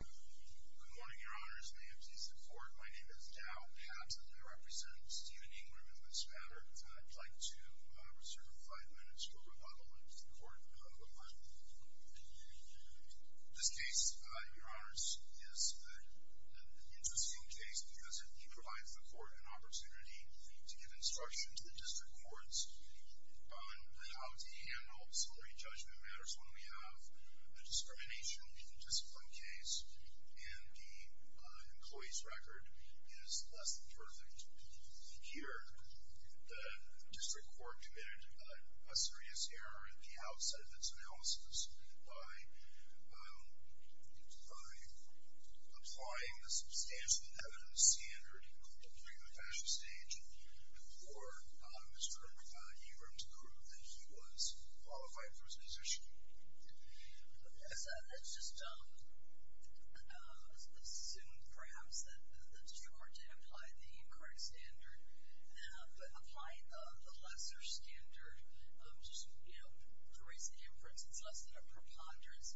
Good morning, Your Honors. May it please the Court, my name is Dow Patton. I represent Stephen Ingram in this matter. I'd like to reserve five minutes for rebuttal into the Court of Appeal. This case, Your Honors, is an interesting case because it provides the Court an opportunity to give instruction to the District Courts on how to handle disciplinary judgment matters when we have a discrimination in a discipline case, and the employee's record is less than perfect. Here, the District Court committed a serious error at the outset of its analysis by applying the substantial evidence standard during the first position. Let's just assume, perhaps, that the District Court did apply the correct standard, but applying the lesser standard, you know, to raise the inference, it's less than a preponderance.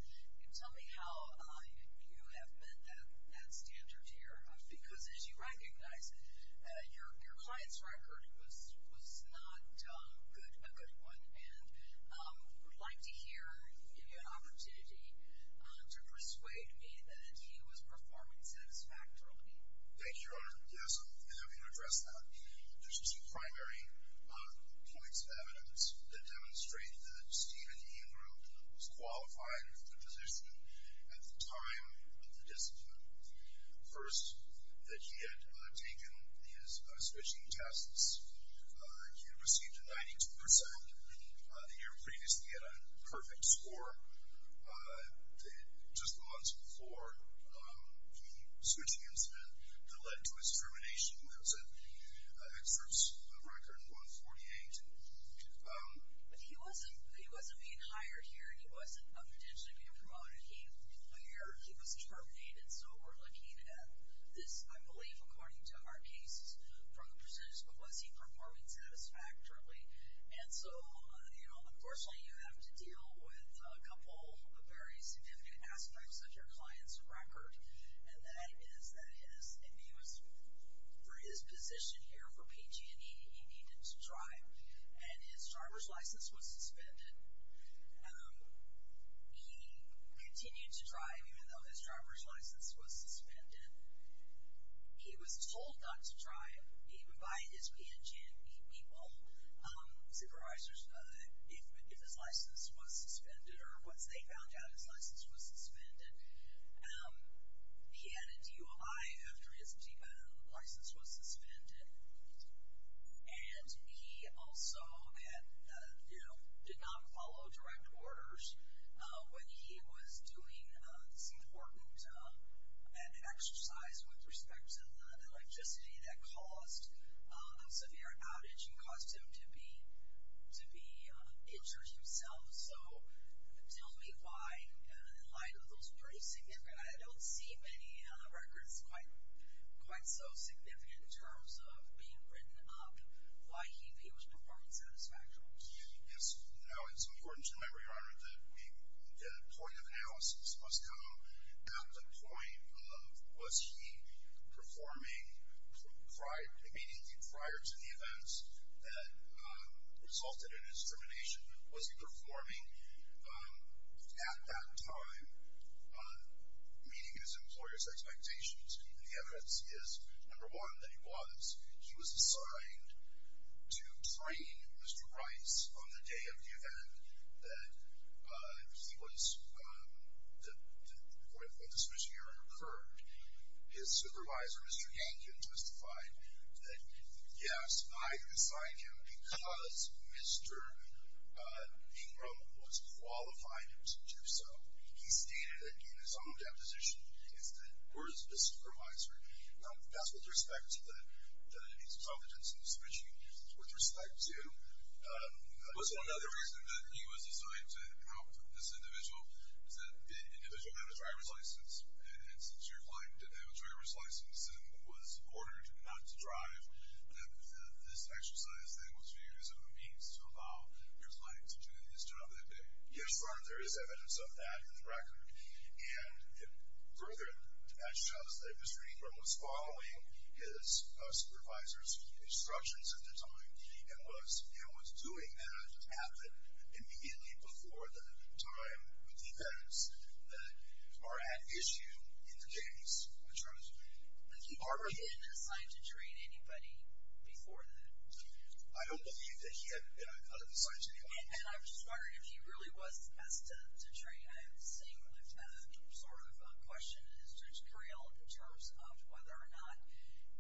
Tell me how you have met that standard, Your Honors, because as you would like to hear, I'll give you an opportunity to persuade me that he was performing satisfactorily. Thank you, Your Honor. Yes, I'm happy to address that. There's just some primary points of evidence that demonstrate that Stephen Ingram was qualified for the position at the time of the discipline. First, that he had taken his switching tests. He had received a 92% in previous. He had a perfect score. Just the months before, he switched the incident that led to his termination. That's an expert's record, 148. But he wasn't, he wasn't being hired here, he wasn't potentially being promoted. He was terminated, so we're looking at this, I believe, according to our cases, from the percentage, but was he performing satisfactorily? And so, you know, unfortunately, you have to deal with a couple of very significant aspects of your client's record, and that is that his, and he was, for his position here for PG&E, he needed to drive, and his driver's license was suspended. He continued to drive, even though his drive, even by his PG&E people, supervisors, if his license was suspended, or once they found out his license was suspended. He had a DUI after his license was suspended, and he also, you know, did not follow direct orders when he was doing this important exercise with respect to the electricity that caused a severe outage and caused him to be, to be injured himself. So, tell me why, in light of those pretty significant, I don't see many records quite, quite so significant in terms of being written up, why he was performing satisfactorily. Yes, you know, it's come at the point of, was he performing immediately prior to the events that resulted in his termination? Was he performing at that time meeting his employer's expectations? And the evidence is, number one, that he was. He was the, when the submission hearing occurred, his supervisor, Mr. Yankin, testified that, yes, I assigned him because Mr. Ingram was qualified him to do so. He stated that, in his own deposition, is that, or his supervisor. Now, that's with respect to the, that he's involved in some submission hearings. With respect to. Was it another reason that he was assigned to help this individual? Is that the individual had a driver's license, and since your client didn't have a driver's license, and was ordered not to drive, that this exercise thing was viewed as a means to allow your client to do his job that day? Yes, sir. There is evidence of that in the record, and further, that shows that Mr. Ingram was following his supervisor's instructions at the time, and was, and was doing that, at the, immediately before the time with the events that are at issue in the case, which are the key part of the case. Had he been assigned to train anybody before that? I don't believe that he had been, I thought he was assigned to anyone. And I was just wondering if he really was asked to, to train. I have the same sort of question as Judge Cariello in terms of whether or not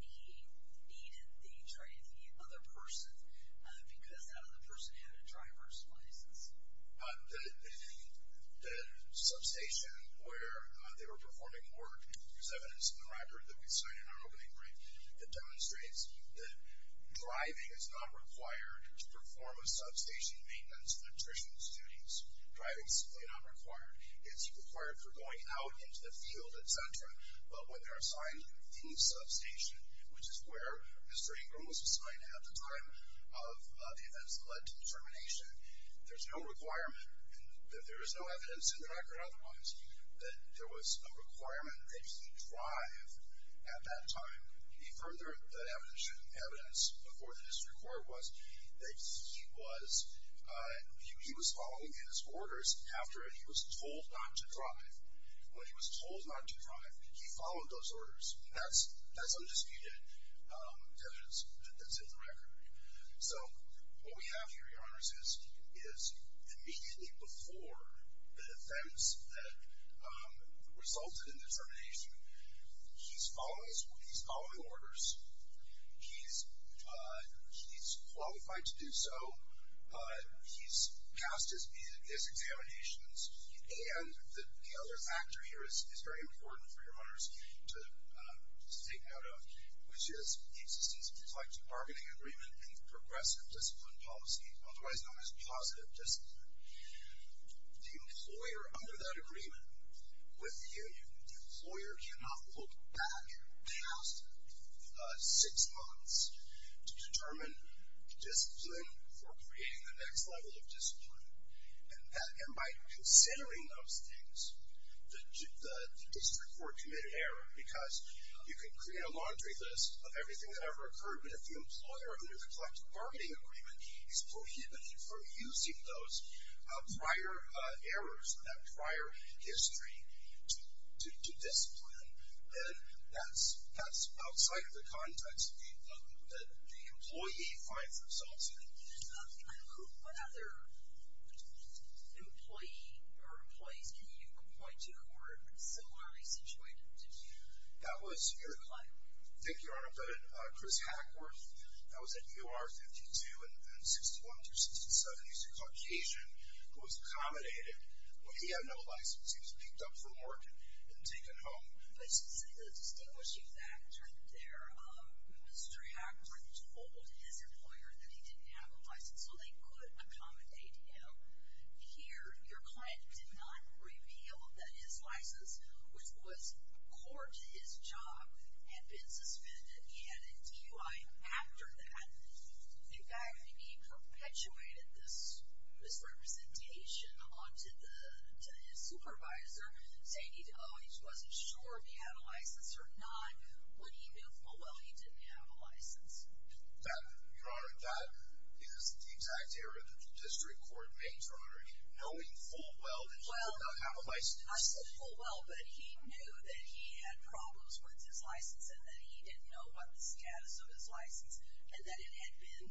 he needed the training of the other person, because that other person had a driver's license. The, the, the substation where they were performing work, there's evidence in the record that we signed in our opening brief, that demonstrates that driving is not required to perform a substation maintenance nutritionist duties. Driving is simply not required. It's required for going out into the field, etc. But when they're assigned the substation, which is where Mr. Ingram was assigned at the time of the events that led to the termination, there's no requirement, and there is no evidence in the record otherwise, that there was a requirement that he drive at that time. The further evidence before the district court was that he was, he was following his orders after he was told not to drive. When he was told not to drive, he followed those orders. That's, that's undisputed evidence that's in the record. So what we have here, Your Honors, is, is immediately before the offense that resulted in the termination, he's following, he's following orders. He's, he's qualified to do so. He's passed his, his examinations. And the, the other factor here is, is very important for Your Honors to, to take note of, which is the existence of the Selective Marketing Agreement and Progressive Discipline Policy, otherwise known as Positive Discipline. The employer under that agreement with the union, the employer cannot look back past six months to determine discipline for creating the next level of discipline. And that, and by considering those things, the, the district court committed error, because you can create a laundry list of everything that ever occurred, but if the employer under the Collective Marketing Agreement is prohibited from using those prior errors, that prior history to, to, to discipline, then that's, that's outside of the context that the, that the employee finds themselves in. Who, what other employee or employees can you point to who are similarly situated to you? That was your client. Thank you, Your Honor. But Chris Hackworth. That was at UR 52 and 61 through 67. He's a Caucasian who was accommodated. Well, he had no license. He was picked up from work and taken home. But to distinguish you back there, Mr. Hackworth told his employer that he didn't have a license. So they could accommodate him here. Your client did not reveal that his license, which was core to his job, had been suspended. He had a DUI after that. In fact, he perpetuated this misrepresentation onto the, to his supervisor, saying he, oh, he wasn't sure if he had a license or not, when he knew full well he didn't have a license. That, Your Honor, that is the exact error that the district court makes, Your Honor. Knowing full well that he did not have a license. Well, I said full well, but he knew that he had problems with his license and that he didn't know about the status of his license and that it had been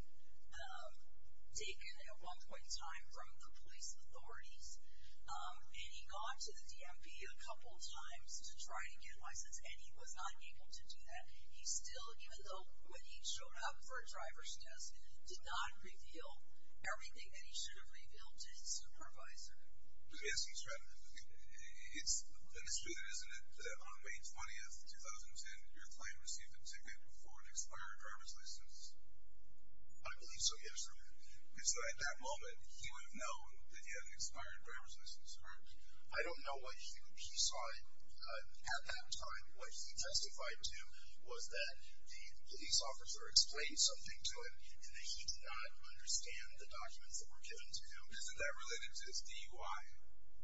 taken at one point in time from the police authorities. And he got to the DMV a couple times to try to get a license, and he was not able to do that. He still, even though when he showed up for a driver's test, did not reveal everything that he should have revealed to his supervisor. Yes, he's right. And it's true that, isn't it, that on May 20, 2010, your client received a ticket for an expired driver's license? I believe so, yes. And so at that moment, he would have known that he had an expired driver's license, correct? I don't know what he saw at that time. What he testified to was that the police officer explained something to him and that he did not understand the documents that were given to him. Isn't that related to his DUI?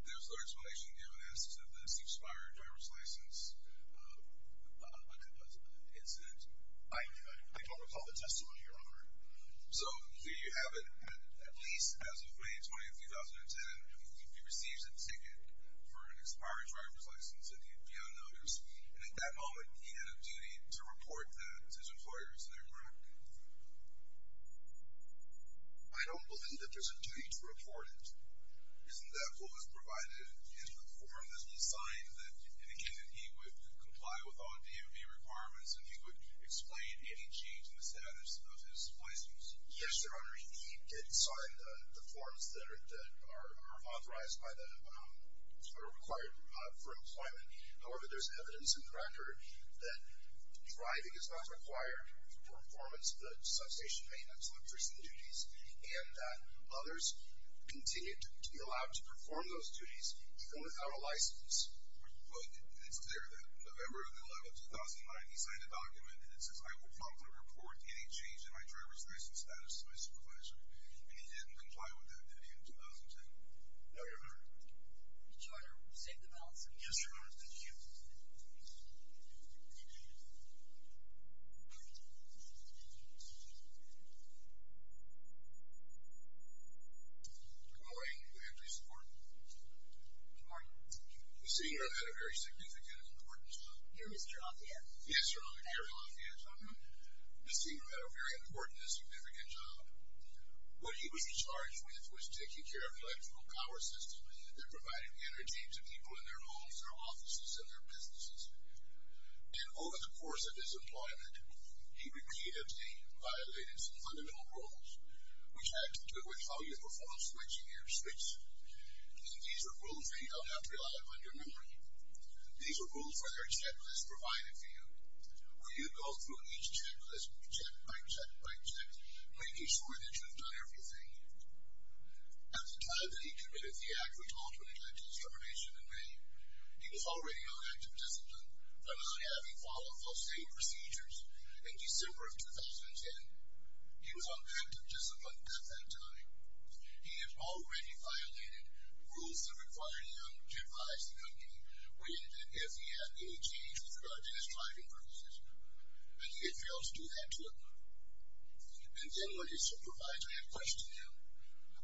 There's no explanation given as to this expired driver's license incident. I don't recall the testimony, Your Honor. So here you have it, at least as of May 20, 2010, he receives a ticket for an expired driver's license, and he'd be on notice. And at that moment, he had a duty to report that to his employers, correct? I don't believe that there's a duty to report it. Isn't that what was provided in the form that was signed, indicating that he would comply with all DOD requirements and he would explain any change in the status of his license? Yes, Your Honor, he did sign the forms that are authorized by the, that are required for employment. However, there's evidence in the record that driving is not required for performance of the substation maintenance, electricity duties, and that others continue to be allowed to perform those duties even without a license. But it's clear that November 11, 2009, he signed a document and it says, I will promptly report any change in my driver's license status to my supervisor. And he didn't comply with that duty in 2010. No, Your Honor. Did you, Your Honor, save the balance of your time? Yes, Your Honor, did you? Good morning. Good morning. Please support. Good morning. You see, you have had a very significant importance. You're Mr. Lafayette. Yes, Your Honor, Harry Lafayette, Your Honor. You see, you have had a very important and significant job. What he was in charge with was taking care of the electrical power system that provided energy to people in their homes, their offices, and their businesses. And over the course of his employment, he repeatedly violated some fundamental rules, which had to do with how you perform switching your switch. And these are rules that you don't have to rely upon your memory. These are rules where there are checklists provided for you, where you go through each checklist, check by check by check, making sure that you've done everything. At the time that he committed the act, which ultimately led to his termination in May, he was already on active discipline, but not having followed those same procedures in December of 2010. He was on active discipline at that time. He had already violated rules that required him to advise the company if he had any change with regard to his driving privileges, and he had failed to do that to him. And then when his supervisor had questioned him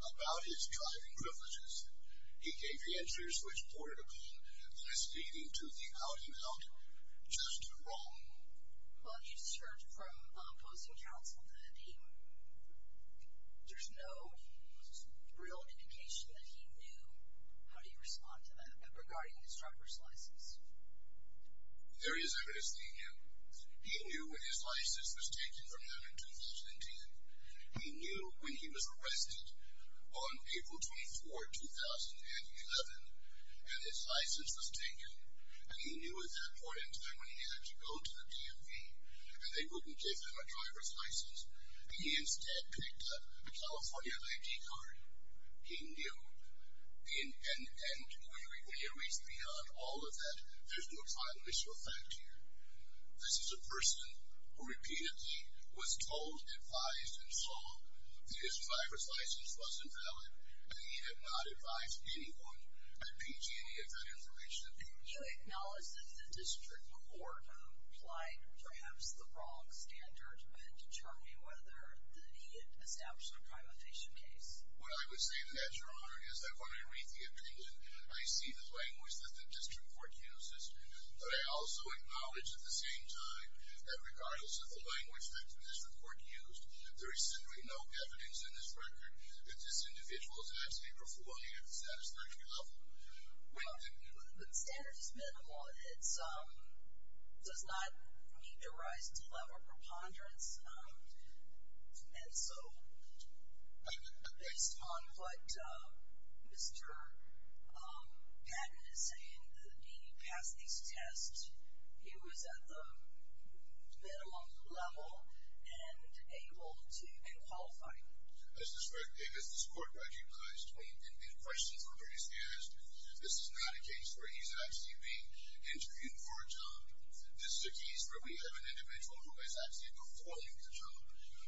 about his driving privileges, he gave answers which bordered upon listening to the out-and-out, just wrong. Well, he's served from opposing counsel to the dean. There's no real indication that he knew how to respond to them regarding his driver's license. There is evidence that he knew. He knew when his license was taken from him in 2010. He knew when he was arrested on April 24, 2011, and his license was taken, and he knew at that point in time when he had to go to the DMV and they wouldn't give him a driver's license. He instead picked up a California ID card. He knew. And when you reach beyond all of that, there's no final issue of fact here. This is a person who repeatedly was told, advised, and saw that his driver's license was invalid, and he had not advised anyone at PG&E of that information. You acknowledge that the district court applied perhaps the wrong standard in determining whether he had established a privatization case. What I would say to that, Your Honor, is that when I read the opinion, I see the language that the district court uses, but I also acknowledge at the same time that regardless of the language that the district court used, there is simply no evidence in this record that this individual is an absentee or fully at the satisfactory level. Well, the standard is minimal. It does not need to rise to the level of preponderance. And so based on what Mr. Patton is saying, the DMV passed these tests. He was at the minimum level and able to qualify. As this court recognized and questions were raised, this is not a case where he's actually being interviewed for a job. This is a case where we have an individual who is actually performing the job,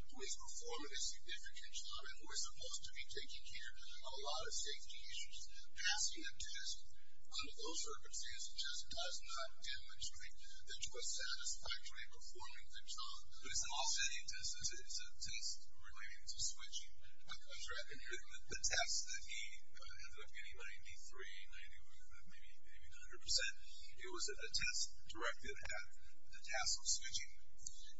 who is performing a significant job, and who is supposed to be taking care of a lot of safety issues. Passing a test under those circumstances just does not demonstrate that you are satisfactorily performing the job. But it's an off-setting test. It's a test related to switching. The test that he ended up getting 93, 90, maybe 100 percent, it was a test directed at the task of switching.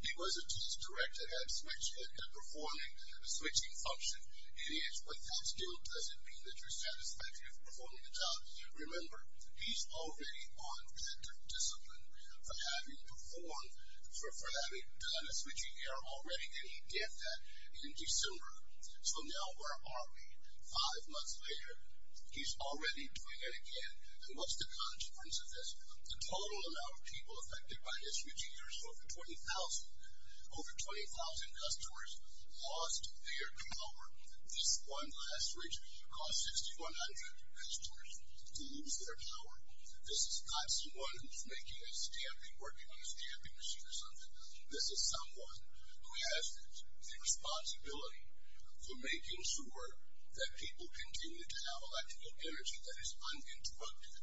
He was a test directed at performing a switching function, and yet with that still doesn't mean that you're satisfactory of performing the job. Remember, he's already on that discipline for having performed, for having done a switching error already, and he did that in December. So now where are we? Five months later, he's already doing it again. And what's the consequence of this? The total amount of people affected by this switching error is over 20,000. Over 20,000 customers lost their power. This one last switch cost 6,100 customers to lose their power. This is not someone who's making a stamping, working on a stamping machine or something. This is someone who has the responsibility for making sure that people continue to have electrical energy that is uninterrupted.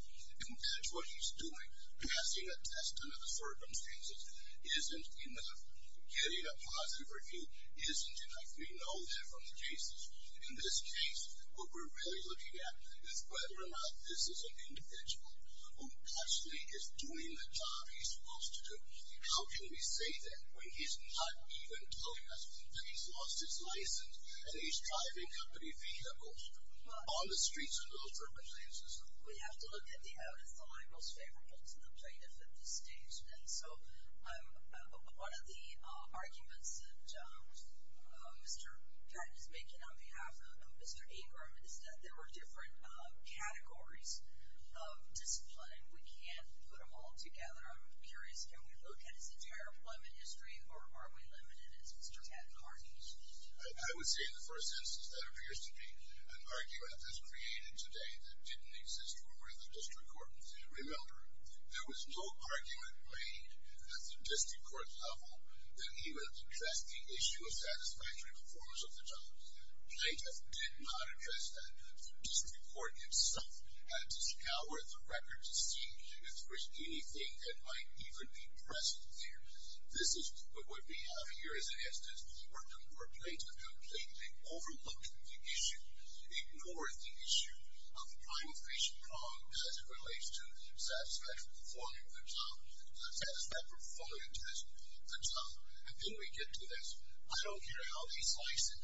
And that's what he's doing. Passing a test under the circumstances isn't enough. Getting a positive review isn't enough. We know that from the cases. In this case, what we're really looking at is whether or not this is an individual who actually is doing the job he's supposed to do. How can we say that when he's not even telling us that he's lost his license and he's driving company vehicles on the streets in those circumstances? We have to look at the out of the line most favorable to the plaintiff at this stage. And so one of the arguments that Mr. Patton is making on behalf of Mr. Abram is that there are different categories of discipline, and we can't put them all together. I'm curious, can we look at his entire employment history, or are we limited as Mr. Patton argues? I would say in the first instance that appears to be an argument that's created today that didn't exist for the district court. Remember, there was no argument made at the district court level that he would address the issue of satisfactory performance of the job. Plaintiff did not address that. The district court itself had to scour the records to see if there was anything that might even be present there. This is what we have here as an instance, where plaintiff completely overlooked the issue, ignored the issue of primary patient problems as it relates to satisfactory performance of the job. And then we get to this, I don't care how they slice it,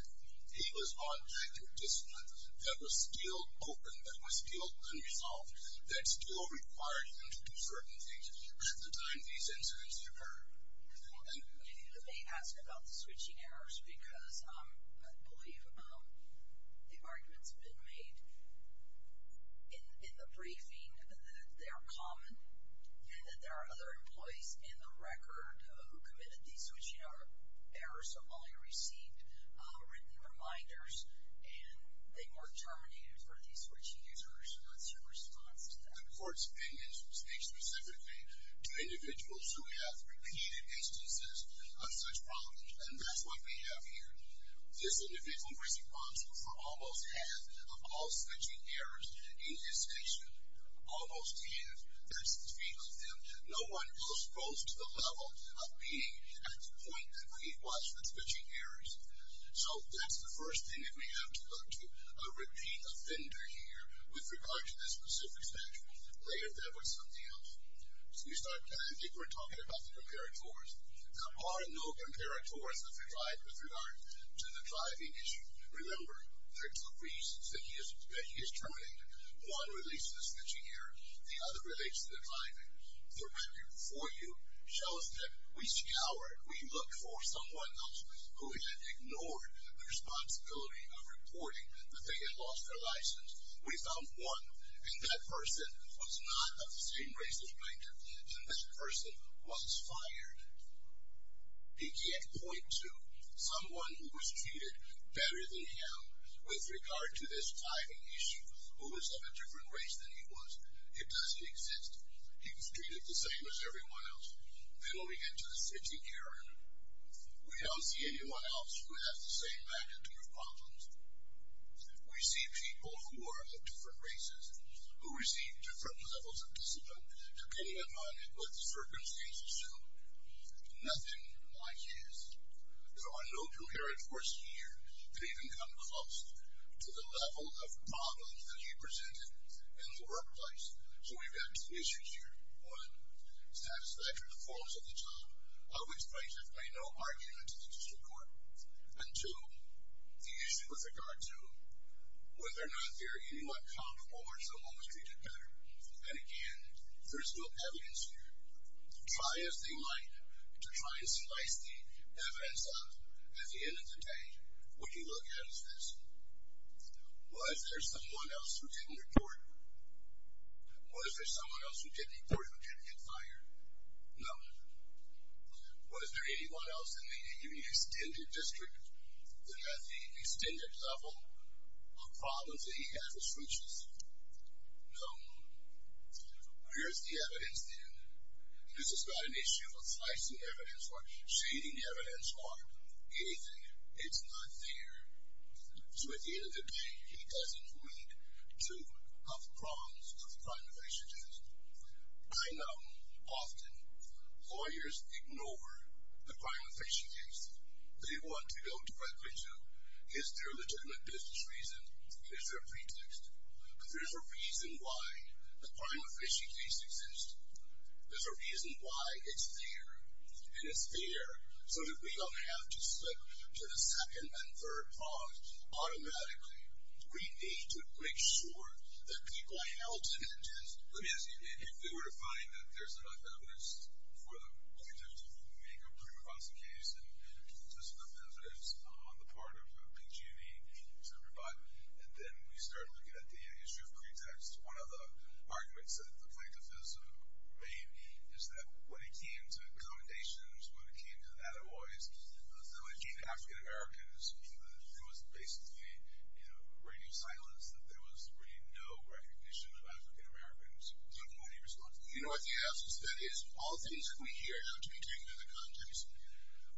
he was objecting to discipline that was still open, that was still unresolved, that still required him to do certain things at the time these incidents occurred. You may ask about the switching errors, because I believe the arguments have been made in the briefing that they are common and that there are other employees in the record who committed these switching errors or only received written reminders and they weren't terminated for these switching errors. What's your response to that? The court's opinion speaks specifically to individuals who have repeated instances of such problems, and that's what we have here. This individual was responsible for almost half of all switching errors in his station, almost half. That's the fate of them. No one else goes to the level of being at the point that we watch the switching errors. So that's the first thing that we have to look to, a repeat offender here with regard to this specific statute. Later that was something else. So we start, I think we're talking about the comparators. There are no comparators with regard to the driving issue. Remember, there are two reasons that he is terminated. One relates to the switching error. The other relates to the driving. The record before you shows that we scoured, we looked for someone else who had ignored the responsibility of reporting that they had lost their license. We found one, and that person was not of the same race as granted, and that person was fired. He can't point to someone who was treated better than him with regard to this driving issue, who was of a different race than he was. It doesn't exist. He was treated the same as everyone else. Then we get to the switching error. We don't see anyone else who has the same magnitude of problems. We see people who are of different races, who receive different levels of discipline, depending upon what the circumstances show. Nothing like his. There are no comparators here that even come close to the level of problems that he presented in the workplace. So we've got two issues here. One, satisfactory performance of the job, of which prices play no argument in the district court. And two, the issue with regard to whether or not they're anywhat comparable or if someone was treated better. And again, there's no evidence here. Try as they might to try and slice the evidence up at the end of the day. What you look at is this. Was there someone else who didn't report? Was there someone else who didn't report who didn't get fired? No. Was there anyone else in the extended district that had the extended level of problems that he had with switches? No. Where's the evidence then? This is not an issue of slicing evidence or shading evidence or anything. It's not there. So at the end of the day, he doesn't meet two of the problems of the crime-of-patient case. I know often lawyers ignore the crime-of-patient case. They want to go directly to is there a legitimate business reason? Is there a pretext? Because there's a reason why the crime-of-patient case exists. There's a reason why it's there. And it's there so that we don't have to slip to the second and third cause automatically. We need to make sure that people are held to the test. Let me ask you, if we were to find that there's enough evidence for the plaintiff to make a pre-trial case and there's enough evidence on the part of PG&E to provide, and then we start looking at the issue of pretext, one of the arguments that the plaintiff has made is that when it came to commendations, when it came to attaboys, when it came to African-Americans, it was basically radio silence, that there was really no recognition of African-Americans taking any responsibility. You know what the answer to that is? All things that we hear have to be taken into context.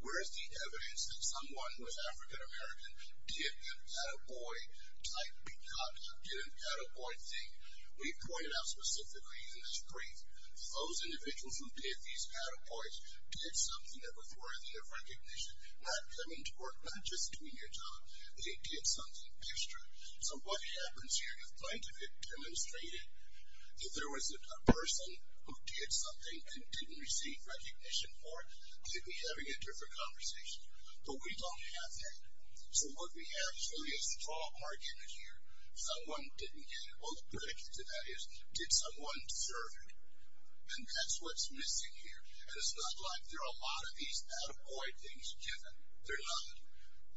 Where is the evidence that someone who is African-American did an attaboy type, did an attaboy thing? We pointed out specifically in this brief that those individuals who did these attaboys did something that was worthy of recognition, not coming to work, not just doing your job. They did something extra. So what happens here, the plaintiff had demonstrated that if there was a person who did something and didn't receive recognition for it, they'd be having a different conversation. But we don't have that. So what we have is really a strong argument here. Someone didn't get it. Well, the predicate to that is, did someone deserve it? And that's what's missing here. And it's not like there are a lot of these attaboy things given. They're not.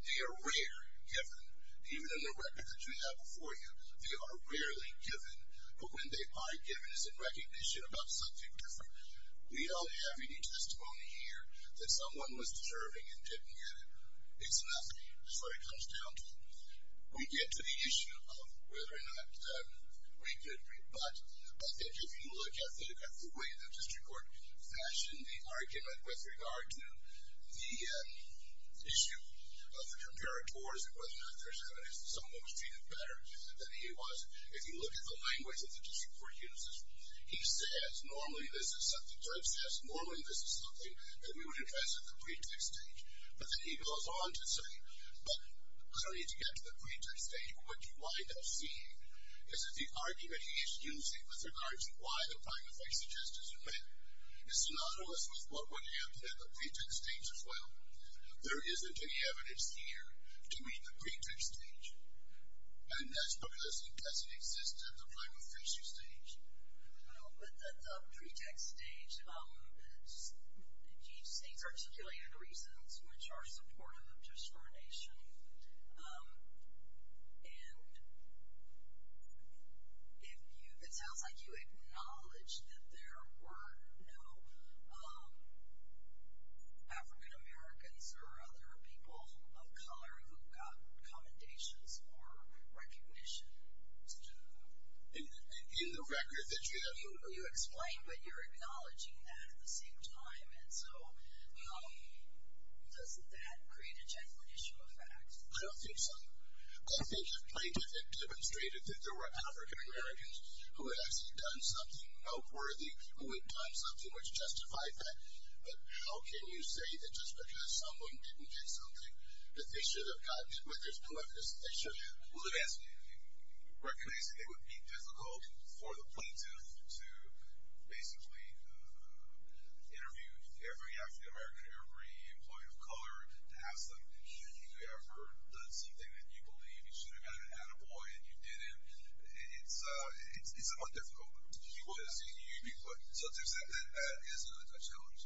They are rare given. Even in the record that you have before you, they are rarely given. But when they are given is in recognition about something different. We don't have any testimony here that someone was deserving and didn't get it. It's nothing. That's what it comes down to. We get to the issue of whether or not we could, but I think if you look at the way the district court fashioned the argument with regard to the issue of the comparators and whether or not there's evidence that someone was treated better than he was, if you look at the language that the district court uses, he says, normally this is something, normally this is something that we would address at the pretext stage. But then he goes on to say, but I don't need to get to the pretext stage, but what you wind up seeing is that the argument he is using with regard to why the prime officer just isn't met is synonymous with what would happen at the pretext stage as well. There isn't any evidence here to meet the pretext stage, and that's because he doesn't exist at the prime officer stage. With the pretext stage, he's articulated reasons which are supportive of discrimination, and if you, it sounds like you acknowledge that there were no African-Americans or other people of color who got commendations or recognition to do that. In the record that you have. You explain, but you're acknowledging that at the same time, and so how does that create a genuine issue of fact? I don't think so. I think if plaintiff had demonstrated that there were African-Americans who had actually done something noteworthy, who had done something which justified that, but how can you say that just because someone didn't get something that they should have gotten it when there's no evidence that they should have? Well, let me ask you. Recognizing it would be difficult for the plaintiff to basically interview every African-American, every employee of color, to ask them, have you ever done something that you believe you should have gotten at a boy and you didn't, it's a bit difficult. So to accept that is a challenge.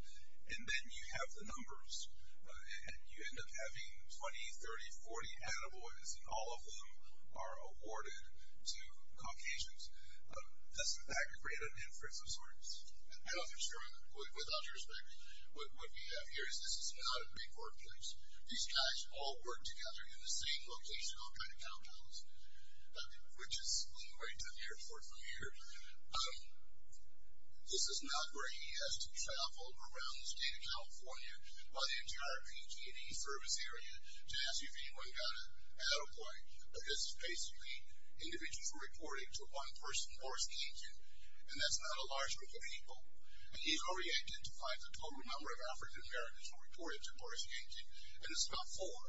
And then you have the numbers, and you end up having 20, 30, 40 at-a-boys, all of whom are awarded to Caucasians. Does that create an inference of sorts? I don't think so. Without your respect, what we have here is this is not a big workplace. These guys all work together in the same location, I'll try to count those, which is right to the airport from here. This is not where he has to travel around the state of California, by the NJRPG, to ask you if anyone got an at-a-boy. But this is basically individuals who reported to one person, Boris Kankin, and that's not a large group of people. And he's already identified the total number of African-Americans who reported to Boris Kankin, and it's about four.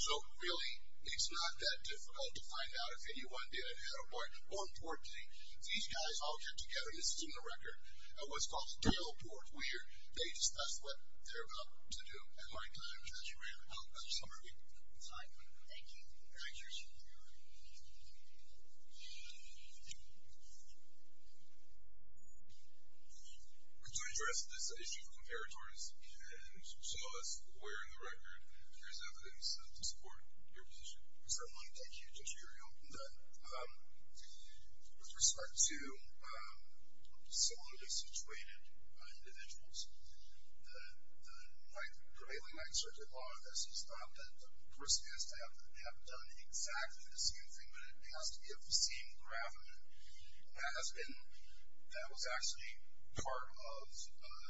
So really, it's not that difficult to find out if anyone did an at-a-boy. More importantly, these guys all get together, and this is in the record, at what's called the tail port where they discuss what they're about to do. All right, thank you very much. We're out of time. Thank you. Thank you, sir. Could you address this issue of comparators and show us where in the record there's evidence to support your position? Certainly. Thank you, Judge Uriel. With respect to solely situated individuals, the prevailing excerpt of all of this is not that the person has to have done exactly the same thing, but it has to be of the same graph. And that was actually part of the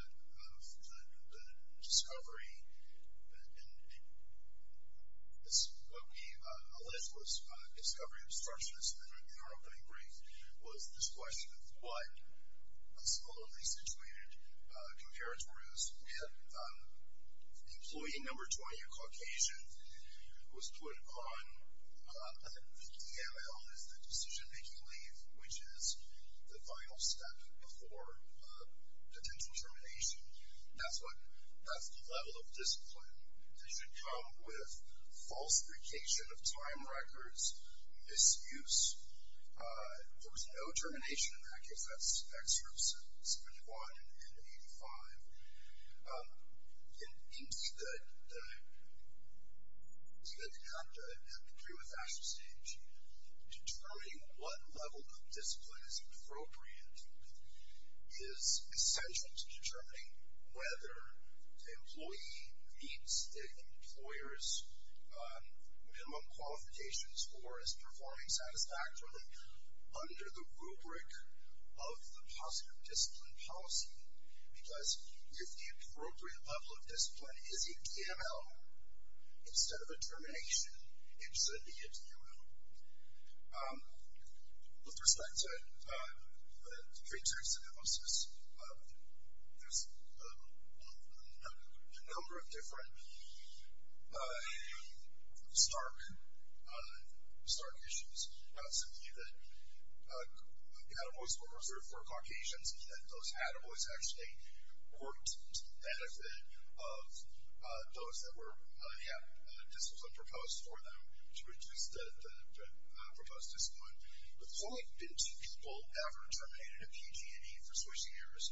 discovery. And what we allege was discovery of structures in our opening brief was this question of what a solely situated comparator is. Employee number 20, a Caucasian, was put on the DML, is the decision-making leave, which is the final step before potential termination. That's the level of discipline. This should come with falsification of time records, misuse. There was no termination of that, because that's excerpts 71 and 85. And indeed, they have to agree with that stage. Determining what level of discipline is appropriate is essential to determining whether the employee meets the employer's minimum qualifications or is performing satisfactorily under the rubric of the positive discipline policy. Because if the appropriate level of discipline is a DML instead of a termination, it should be a DML. With respect to the trade tax analysis, there's a number of different stark issues. Simply that the attiboes were reserved for Caucasians and that those attiboes actually worked to the benefit of those that were, yeah, discipline proposed for them to reduce the proposed discipline. But there's only been two people ever terminated at PG&E for switching years.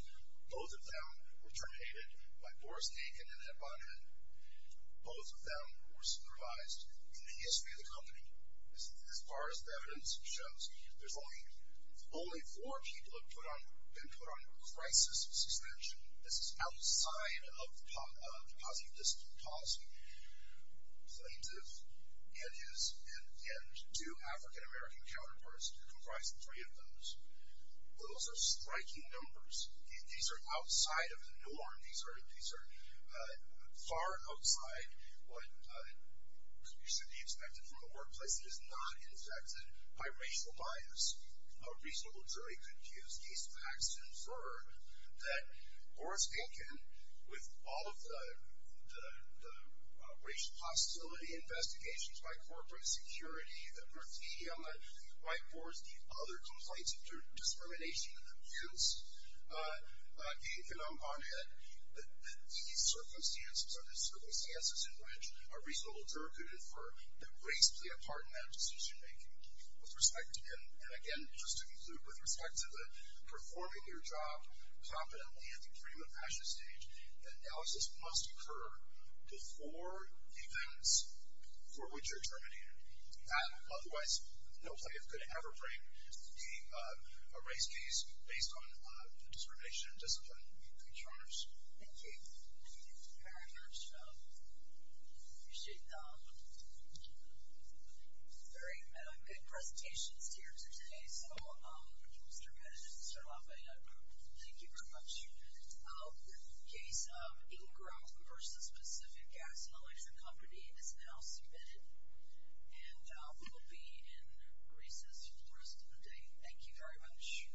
Both of them were terminated by Boris Naikin and Ed Bonham. Both of them were supervised in the history of the company. As far as the evidence shows, only four people have been put on crisis suspension. This is outside of the positive discipline policy. Plaintiff and his two African-American counterparts comprise three of those. Those are striking numbers. These are outside of the norm. These are far outside what should be expected from the workplace. It is not infected by racial bias. A reasonable jury could use these facts to infer that Boris Naikin, with all of the racial hostility investigations by corporate security, the graffiti on the whiteboards, the other complaints of discrimination and abuse, Naikin and Bonham, that these circumstances are the circumstances in which a reasonable jury could infer that race played a part in that decision-making. And again, just to conclude, with respect to the performing your job competently at the Freedom of Passion stage, analysis must occur before the events for which you're terminated. Otherwise, no plaintiff could ever break the race case based on discrimination and discipline. Thank you, Your Honors. Thank you. Thank you very much. I appreciate that. Very good presentations here today. So, Mr. Bennett and Mr. Lafayette, thank you very much. The case of Ingram v. Pacific Gas and Electric Company is now submitted and will be in recess for the rest of the day. Thank you very much.